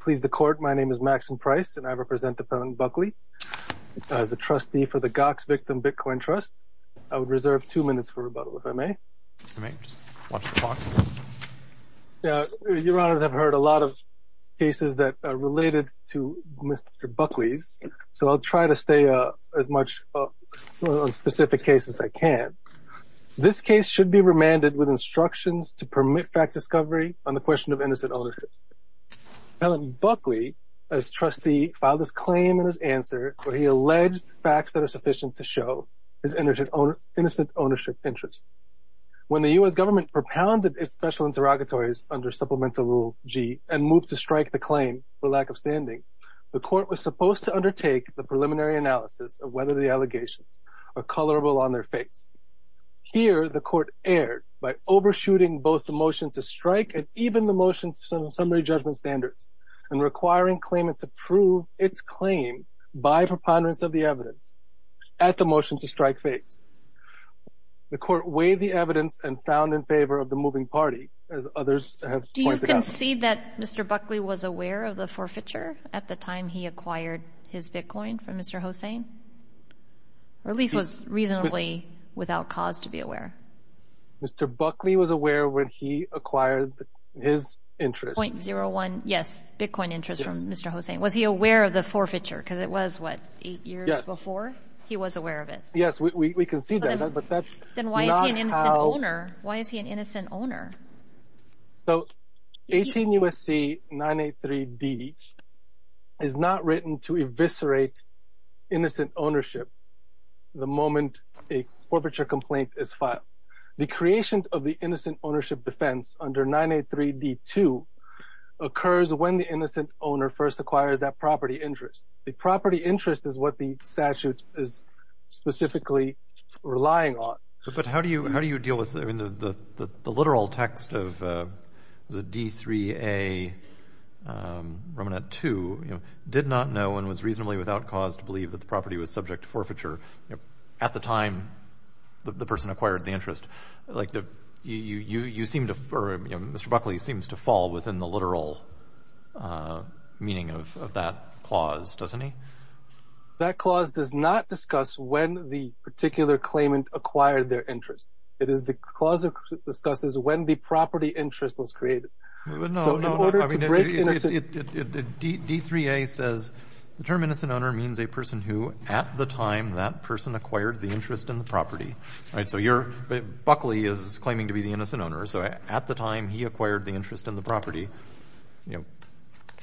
Pleased to court, my name is Maxine Price and I represent the felon Buckley as a trustee for the Gox Victim Bitcoin Trust. I would reserve two minutes for rebuttal, if I may. You may, just watch the clock. Your Honor, I have heard a lot of cases that are related to Mr. Buckley's, so I'll try to stay as much on specific cases as I can. This case should be remanded with felony. Buckley, as trustee, filed his claim in his answer where he alleged facts that are sufficient to show his innocent ownership interest. When the U.S. government propounded its special interrogatories under Supplemental Rule G and moved to strike the claim for lack of standing, the court was supposed to undertake the preliminary analysis of whether the allegations are colorable on their face. Here, the court erred by overshooting both the motion to strike and even the motion's summary judgment standards and requiring claimant to prove its claim by preponderance of the evidence at the motion to strike phase. The court weighed the evidence and found in favor of the moving party, as others have pointed out. Do you concede that Mr. Buckley was aware of the forfeiture at the time he acquired his bitcoin from Mr. Hossain, or at least was reasonably without cause to be aware? Mr. Buckley was aware when he acquired his interest. 0.01, yes, bitcoin interest from Mr. Hossain. Was he aware of the forfeiture? Because it was, what, eight years before? Yes. He was aware of it? Yes, we concede that, but that's not how... Then why is he an innocent owner? Why is he an innocent owner? So 18 U.S.C. 983D is not written to eviscerate innocent ownership the moment a forfeiture complaint is filed. The creation of the innocent ownership defense under 983D2 occurs when the innocent owner first acquires that property interest. The property interest is what the statute is specifically relying on. But how do you deal with, I mean, the literal text of the D3A, Romanat 2, you know, did not know and was reasonably without cause to believe that the time the person acquired the interest. Mr. Buckley seems to fall within the literal meaning of that clause, doesn't he? That clause does not discuss when the particular claimant acquired their interest. It is the clause that discusses when the property interest was created. But no, no, no. D3A says the term innocent owner means a person who at the time that person acquired the interest in the property, right? So you're, Buckley is claiming to be the innocent owner. So at the time he acquired the interest in the property, you know,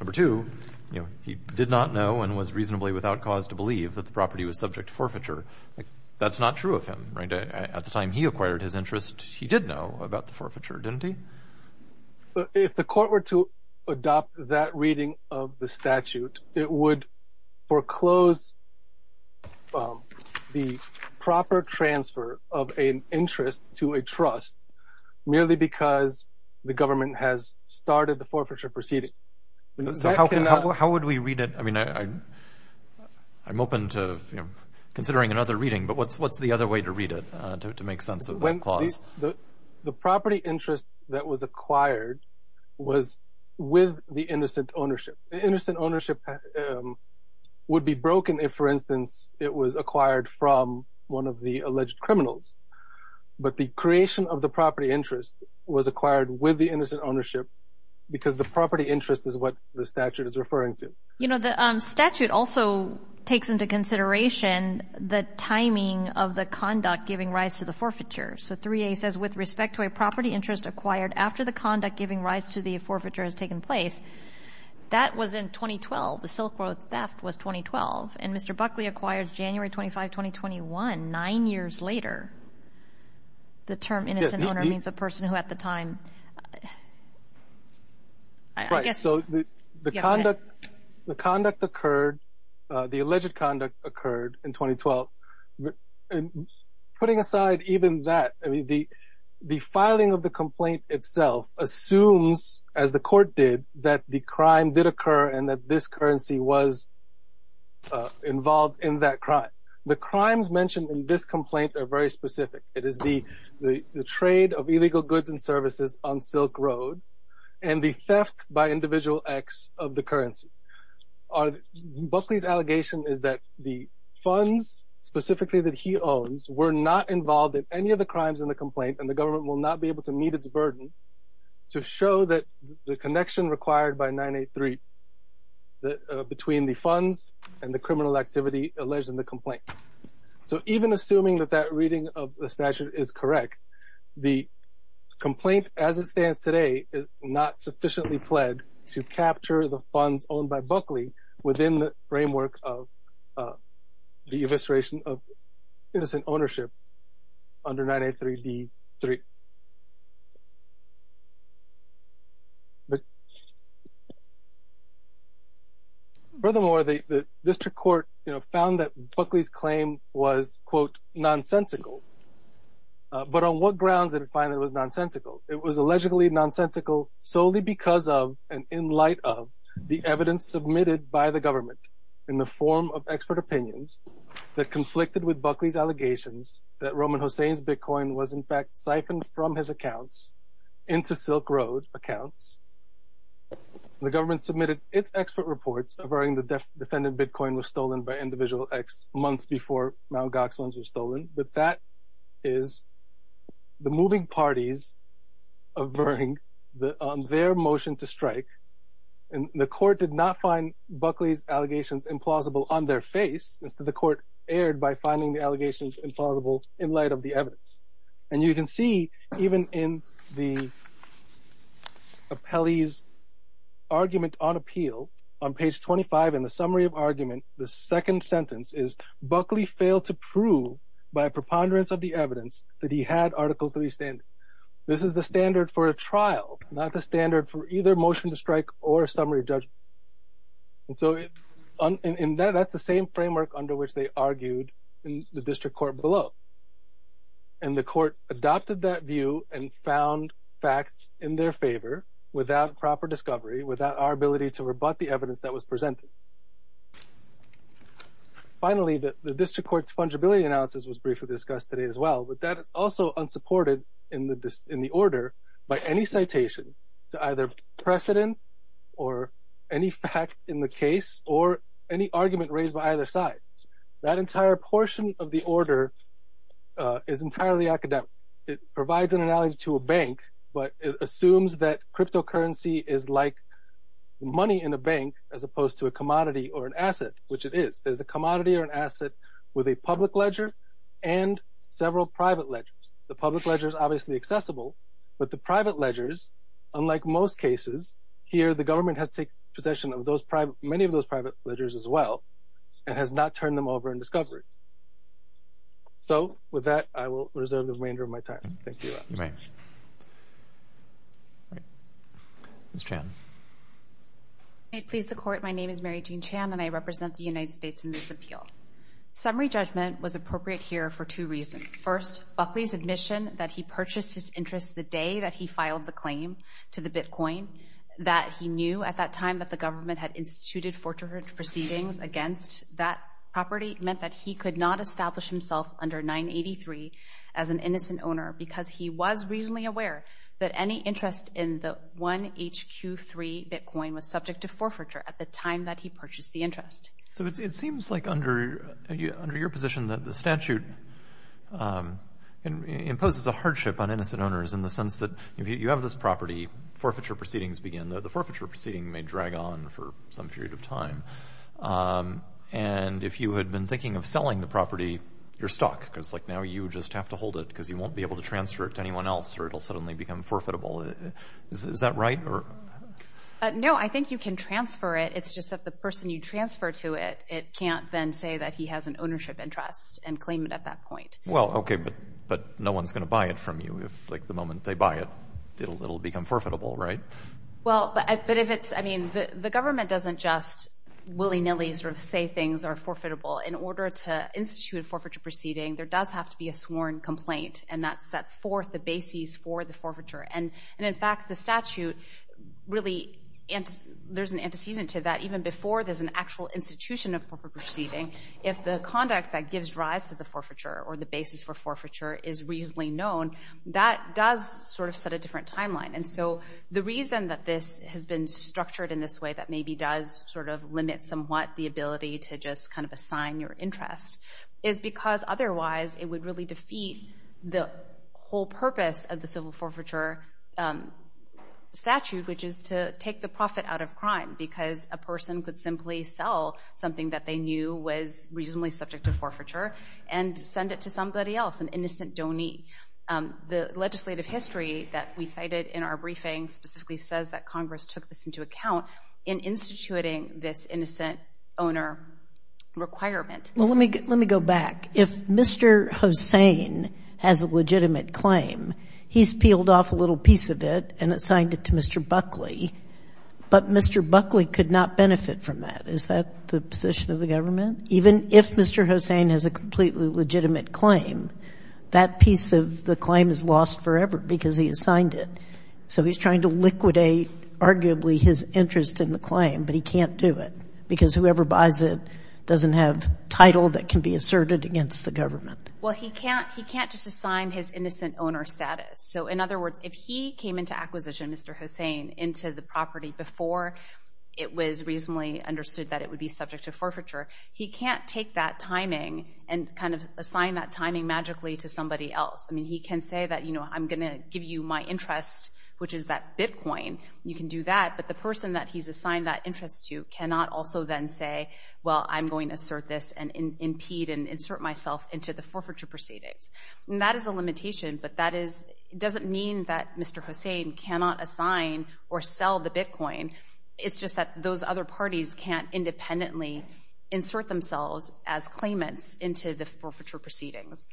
number two, you know, he did not know and was reasonably without cause to believe that the property was subject to forfeiture. That's not true of him, right? At the time he acquired his interest, he did know about the forfeiture, didn't he? If the court were to adopt that reading of the statute, it would foreclose the proper transfer of an interest to a trust merely because the government has started the forfeiture proceeding. So how would we read it? I mean, I'm open to considering another reading, but what's the other way to read it to make sense of the clause? The property interest that was acquired was with the innocent ownership. The innocent ownership would be broken if, for instance, it was acquired from one of the alleged criminals. But the creation of the property interest was acquired with the innocent ownership because the property interest is what the statute is referring to. You know, the statute also takes into consideration the timing of the conduct giving rise to the forfeiture. So 3A says, with respect to a property interest acquired after the conduct giving rise to the forfeiture has taken place, that was in 2012. The Silk Road theft was 2012. And Mr. Buckley acquired January 25, 2021, nine years later. The term innocent owner means a time... Right, so the conduct occurred, the alleged conduct occurred in 2012. And putting aside even that, I mean, the filing of the complaint itself assumes, as the court did, that the crime did occur and that this currency was involved in that crime. The crimes mentioned in this complaint are very specific. It is the trade of illegal goods and services on Silk Road and the theft by individual acts of the currency. Buckley's allegation is that the funds specifically that he owns were not involved in any of the crimes in the complaint and the government will not be able to meet its burden to show that the connection required by 983 between the funds and the criminal activity alleged in the complaint. So even assuming that that reading of the statute is correct, the complaint as it stands today is not sufficiently pled to capture the funds owned by Buckley within the framework of the evisceration of innocent ownership under 983D3. Furthermore, the district court found that Buckley's claim was, quote, nonsensical. But on what grounds did it find it was nonsensical? It was allegedly nonsensical solely because of, and in light of, the evidence submitted by the government in the form of expert opinions that conflicted with Buckley's allegations that Roman Hossain's Bitcoin was in fact siphoned from his accounts into Silk Road accounts. The government submitted its expert reports averting the defendant Bitcoin was stolen by individual acts months before Mt. Gox ones were stolen. But that is the moving parties averting their motion to strike. And the court did not find Buckley's allegations implausible on their face. Instead, the court erred by finding the allegations implausible in light of the evidence. And you can see even in the appellee's argument on appeal on page 25 in the summary of argument, the second sentence is Buckley failed to prove by preponderance of the evidence that he had Article III standing. This is the standard for a trial, not the standard for either motion to strike or summary judgment. And so that's the same framework under which they argued in the district court below. And the court adopted that view and found facts in their favor without proper discovery, without our ability to rebut the evidence that was presented. Finally, the district court's fungibility analysis was briefly discussed today as well, but that is also unsupported in the order by any citation to either precedent or any fact in the case or any argument raised by either side. That entire portion of the order is entirely academic. It provides an analogy to a bank, but it assumes that cryptocurrency is like money in a bank as opposed to a commodity or an asset, which it is. There's a commodity or an The public ledger is obviously accessible, but the private ledgers, unlike most cases here, the government has taken possession of those private, many of those private ledgers as well and has not turned them over in discovery. So with that, I will reserve the remainder of my time. Thank you. May it please the court. My name is Mary Jean Chan and I represent the United States in this Buckley's admission that he purchased his interest the day that he filed the claim to the Bitcoin that he knew at that time that the government had instituted forgery proceedings against that property meant that he could not establish himself under 983 as an innocent owner because he was reasonably aware that any interest in the one hq three Bitcoin was subject to forfeiture at the time that he purchased the interest. So it seems like under under your that the statute imposes a hardship on innocent owners in the sense that if you have this property forfeiture proceedings begin, the forfeiture proceeding may drag on for some period of time. And if you had been thinking of selling the property, you're stuck because like now you just have to hold it because you won't be able to transfer it to anyone else or it'll suddenly become forfeitable. Is that right? No, I think you can transfer it. It's just that the person you transfer to it, it can't then say that he has an ownership interest and claim it at that point. Well, OK, but but no one's going to buy it from you. If like the moment they buy it, it'll it'll become forfeitable, right? Well, but if it's I mean, the government doesn't just willy nilly sort of say things are forfeitable in order to institute forfeiture proceeding. There does have to be a sworn complaint. And that's that's for the basis for the forfeiture. And and in fact, the statute really and there's an antecedent to that even before there's an actual institution of forfeiture proceeding. If the conduct that gives rise to the forfeiture or the basis for forfeiture is reasonably known, that does sort of set a different timeline. And so the reason that this has been structured in this way that maybe does sort of limit somewhat the ability to just kind of assign your interest is because otherwise it would really defeat the whole purpose of the civil forfeiture statute, which is to take the profit out of crime because a person could simply sell something that they knew was reasonably subject to forfeiture and send it to somebody else, an innocent donor. The legislative history that we cited in our briefing specifically says that Congress took this into account in instituting this innocent owner requirement. Well, let me let me go back. If Mr. Hossain has a legitimate claim, he's peeled off a little piece of it and assigned it to Mr. Buckley. But Mr. Buckley could not benefit from that. Is that the position of the government? Even if Mr. Hossain has a completely legitimate claim, that piece of the claim is lost forever because he assigned it. So he's trying to liquidate arguably his interest in the claim, but he can't do it because whoever buys it doesn't have title that can be asserted against the government. Well, he can't he can't just assign his innocent owner status. So in other words, if he came into acquisition, Mr. Hossain into the property before it was reasonably understood that it would be subject to forfeiture, he can't take that timing and kind of assign that timing magically to somebody else. I mean, he can say that, you know, I'm going to give you my interest, which is that Bitcoin. You can do that. But the person that he's assigned that interest to cannot also then say, well, I'm going to assert this and impede and insert myself into the forfeiture proceedings. And that is a limitation. But that is doesn't mean that Mr. Hossain cannot assign or sell the Bitcoin. It's just that those other parties can't independently insert themselves as claimants into the forfeiture proceedings.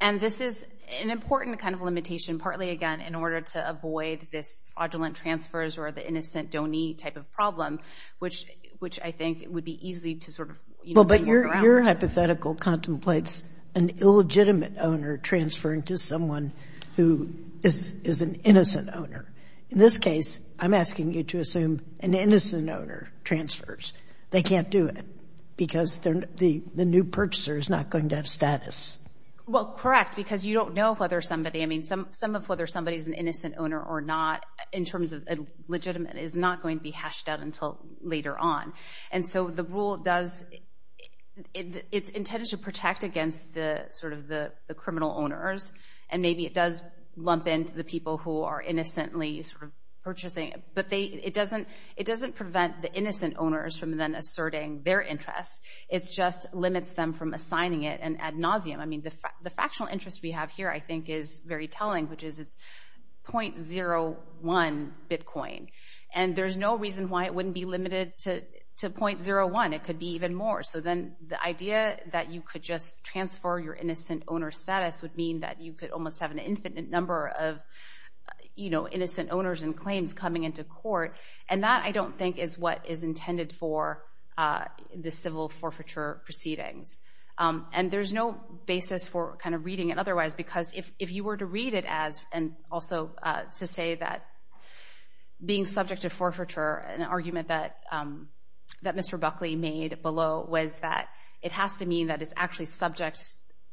And this is an important kind of limitation, partly, again, in order to avoid this fraudulent transfers or the innocent don't need type of problem, which which I think would be easy to sort of. Well, but your hypothetical contemplates an illegitimate owner transferring to someone who is is an innocent owner. In this case, I'm asking you to assume an innocent owner transfers. They can't do it because they're the new purchaser is not going to have status. Well, correct, because you don't know whether somebody I mean, some some of whether somebody is an innocent owner or not in terms of legitimate is not going to be hashed out until later on. And so the rule does it's intended to protect against the sort of the criminal owners. And maybe it does lump in the people who are innocently sort of purchasing. But they it doesn't it doesn't prevent the innocent owners from then asserting their interest. It's just limits them from assigning it. And ad nauseum, I mean, the factional interest we have here, I think, is very telling, which is it's point zero one bitcoin. And there's no reason why it wouldn't be limited to two point zero one. It could be even more. So then the idea that you could just transfer your innocent owner status would mean that you could almost have an infinite number of, you know, innocent owners and claims coming into court. And that I don't think is what is intended for the civil forfeiture proceedings. And there's no basis for kind of reading it otherwise, because if you were to read it as and also to say that being subject to forfeiture, an argument that that Mr. Buckley made below was that it has to mean that it's actually subject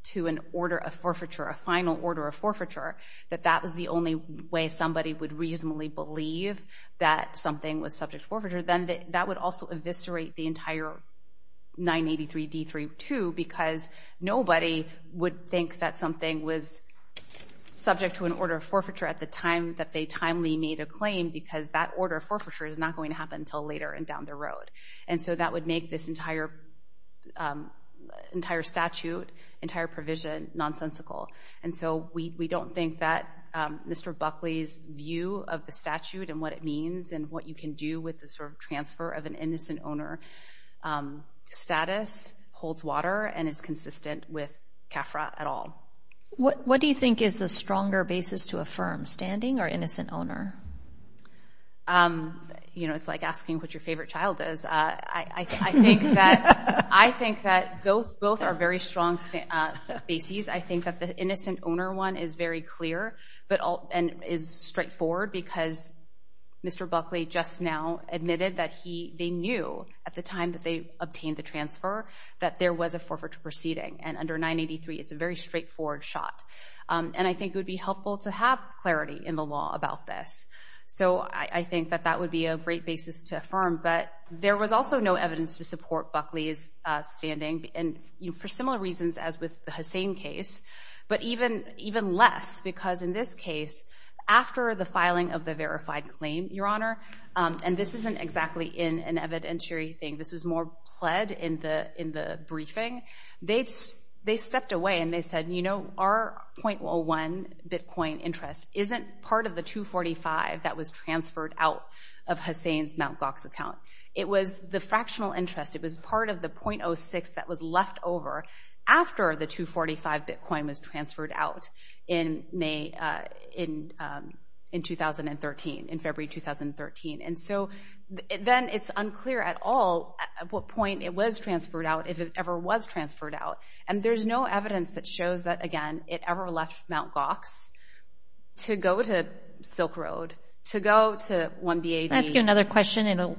to an order of forfeiture, a final order of forfeiture, that that was the only way somebody would reasonably believe that something was subject forfeiture, then that would also eviscerate the entire 983d32, because nobody would think that something was subject to an order of forfeiture at the time that they timely made a claim because that order of forfeiture is not going to happen until later and down the road. And so that would make this entire statute, entire provision nonsensical. And so we don't think that Mr. Buckley's view of the statute and what it means and what you can do with the sort of transfer of an innocent owner status holds water and is consistent with CAFRA at all. What do you think is the stronger basis to affirm, standing or innocent owner? You know, it's like asking what your favorite child is. I think that both are very strong bases. I think that the innocent owner one is very clear and is straightforward because Mr. Buckley just now admitted that they knew at the time that they obtained the transfer that there was a forfeiture proceeding. And under 983, it's a very straightforward shot. And I think it would be helpful to have clarity in the law about this. So I think that that would be a great basis to affirm. But there was also no evidence to support Buckley's standing. And for similar reasons as with the Hussein case, but even less because in this case, after the filing of the verified claim, Your Honor, and this isn't exactly in an evidentiary thing. This was more pled in the briefing. They stepped away and they said, you know, our 0.01 Bitcoin interest isn't part of the 245 that was transferred out of Hussein's Mt. Gox account. It was the fractional interest. It was part of the 0.06 that was left over after the 245 Bitcoin was transferred out in February 2013. And so then it's unclear at all at what point it was transferred out if it ever was transferred out. And there's no evidence that shows that, again, it ever left Mt. Gox to go to Silk Road, to go to 1BAD. I'll ask you another question.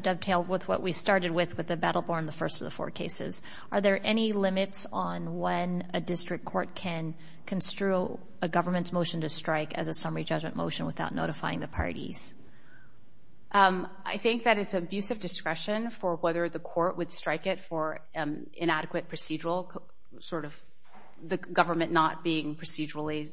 Dovetail with what we started with, with the Battle Born, the first of the four cases. Are there any limits on when a district court can construe a government's motion to strike as a summary judgment motion without notifying the parties? I think that it's abusive discretion for whether the court would strike it for inadequate procedural, sort of the government not being procedurally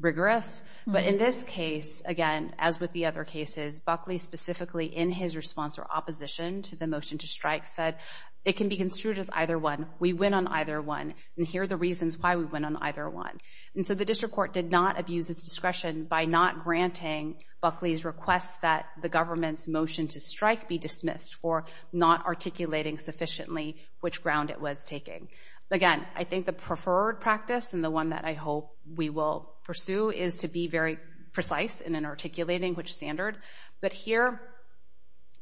rigorous. But in this case, again, as with the other cases, Buckley specifically in his response or opposition to the motion to strike said, it can be construed as either one. We win on either one. And here are the reasons why we win on either one. And so the district court did not abuse its discretion by not granting Buckley's request that the government's motion to strike be dismissed for not articulating sufficiently which ground it was taking. Again, I think the preferred practice and the one that I hope we will pursue is to be very precise in articulating which standard. But here,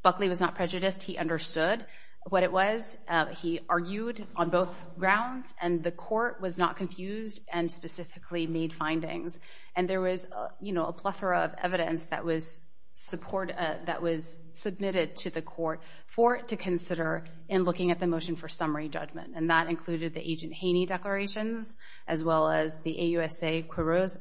Buckley was not prejudiced. He understood what it was. He argued on both grounds and the court was not confused and specifically made findings. And there was, you know, a plethora of evidence that was submitted to the court for it to consider in looking at the motion for summary judgment. And that included the Agent Haney declarations as well as the AUSA Quiroz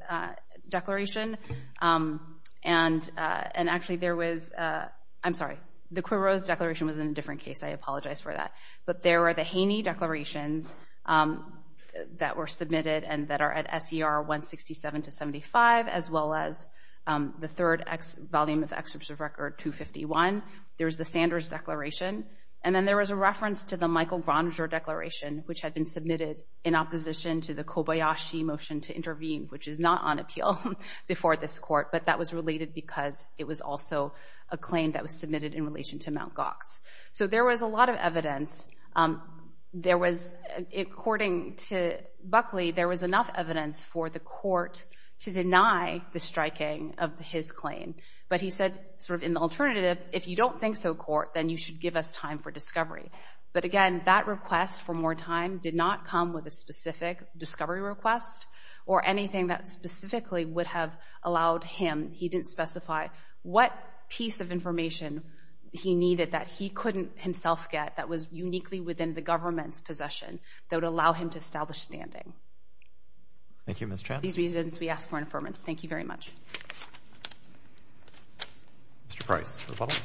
declaration. And actually there was, I'm sorry, the Quiroz declaration was in a different case. I apologize for that. But there are the Haney declarations that were submitted and that are at SER 167 to 75 as well as the third volume of excerpt of record 251. There's the Sanders declaration. And then there was a reference to the Michael Granger declaration, which had been submitted in opposition to the Kobayashi motion to intervene, which is not on appeal before this court. But that was related because it was also a claim that was submitted in relation to Mt. Gox. So there was a lot of evidence. There was, according to Buckley, there was enough evidence for the court to deny the striking of his claim. But he said sort of in the alternative, if you don't think so, court, then you should give us time for discovery. But again, that request for more time did not come with a specific discovery request or anything that specifically would have allowed him, he didn't specify, what piece of information he needed that he couldn't himself get that was uniquely within the government's possession that would allow him to establish standing. Thank you, Ms. Chan. These reasons we ask for information. Thank you very much. Mr. Price, rebuttal.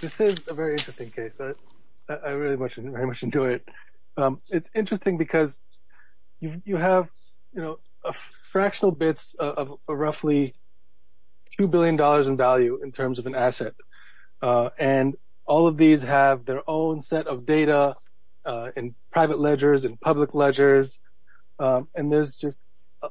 This is a very interesting case. I really very much enjoy it. It's interesting because you have fractional bits of roughly $2 billion in value in terms of an asset. And all of these have their own set of data in private ledgers and public ledgers. And there's just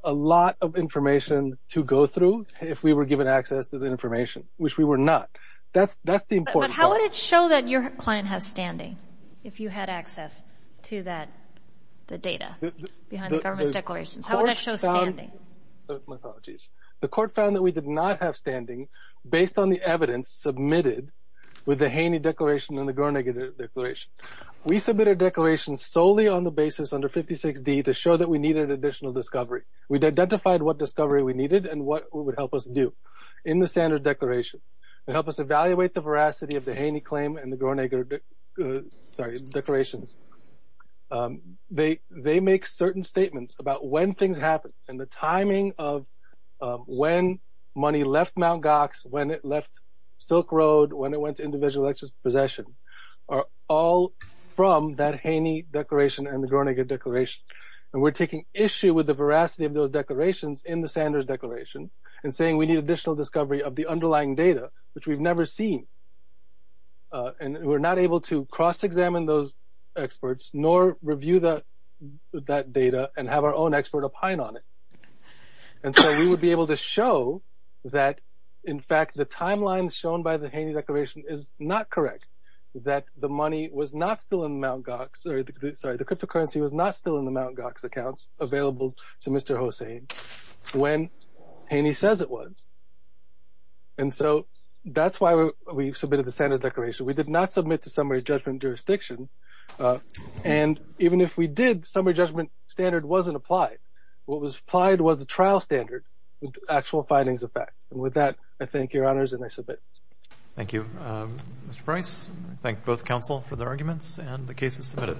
a lot of information to go through if we were given access to the information, which we were not. That's the important part. But how would it show that your client has standing if you had access to that, the data behind the government's declarations? How would that show standing? The court found that we did not have standing based on the evidence submitted with the Haney Declaration and the Gornick Declaration. We submitted declarations solely on the basis under 56D to show that we needed additional discovery. We identified what discovery we needed. They make certain statements about when things happen and the timing of when money left Mount Gox, when it left Silk Road, when it went to individual possession, are all from that Haney Declaration and the Gornick Declaration. And we're taking issue with the veracity of those declarations in the Sanders Declaration and saying we need additional discovery of the underlying data, which we've never seen. And we're not able to cross-examine those experts nor review that data and have our own expert opine on it. And so we would be able to show that, in fact, the timeline shown by the Haney Declaration is not correct, that the money was not still in Mount Gox. Sorry, the cryptocurrency was not still in the Mount Gox accounts available to Mr. Hosein when Haney says it was. And so that's why we submitted the Sanders Declaration. We did not submit to summary judgment jurisdiction. And even if we did, summary judgment standard wasn't applied. What was applied was the trial standard with actual findings of facts. And with that, I thank your honors, and I submit. Thank you, Mr. Price. I thank both counsel for their arguments and the cases submitted.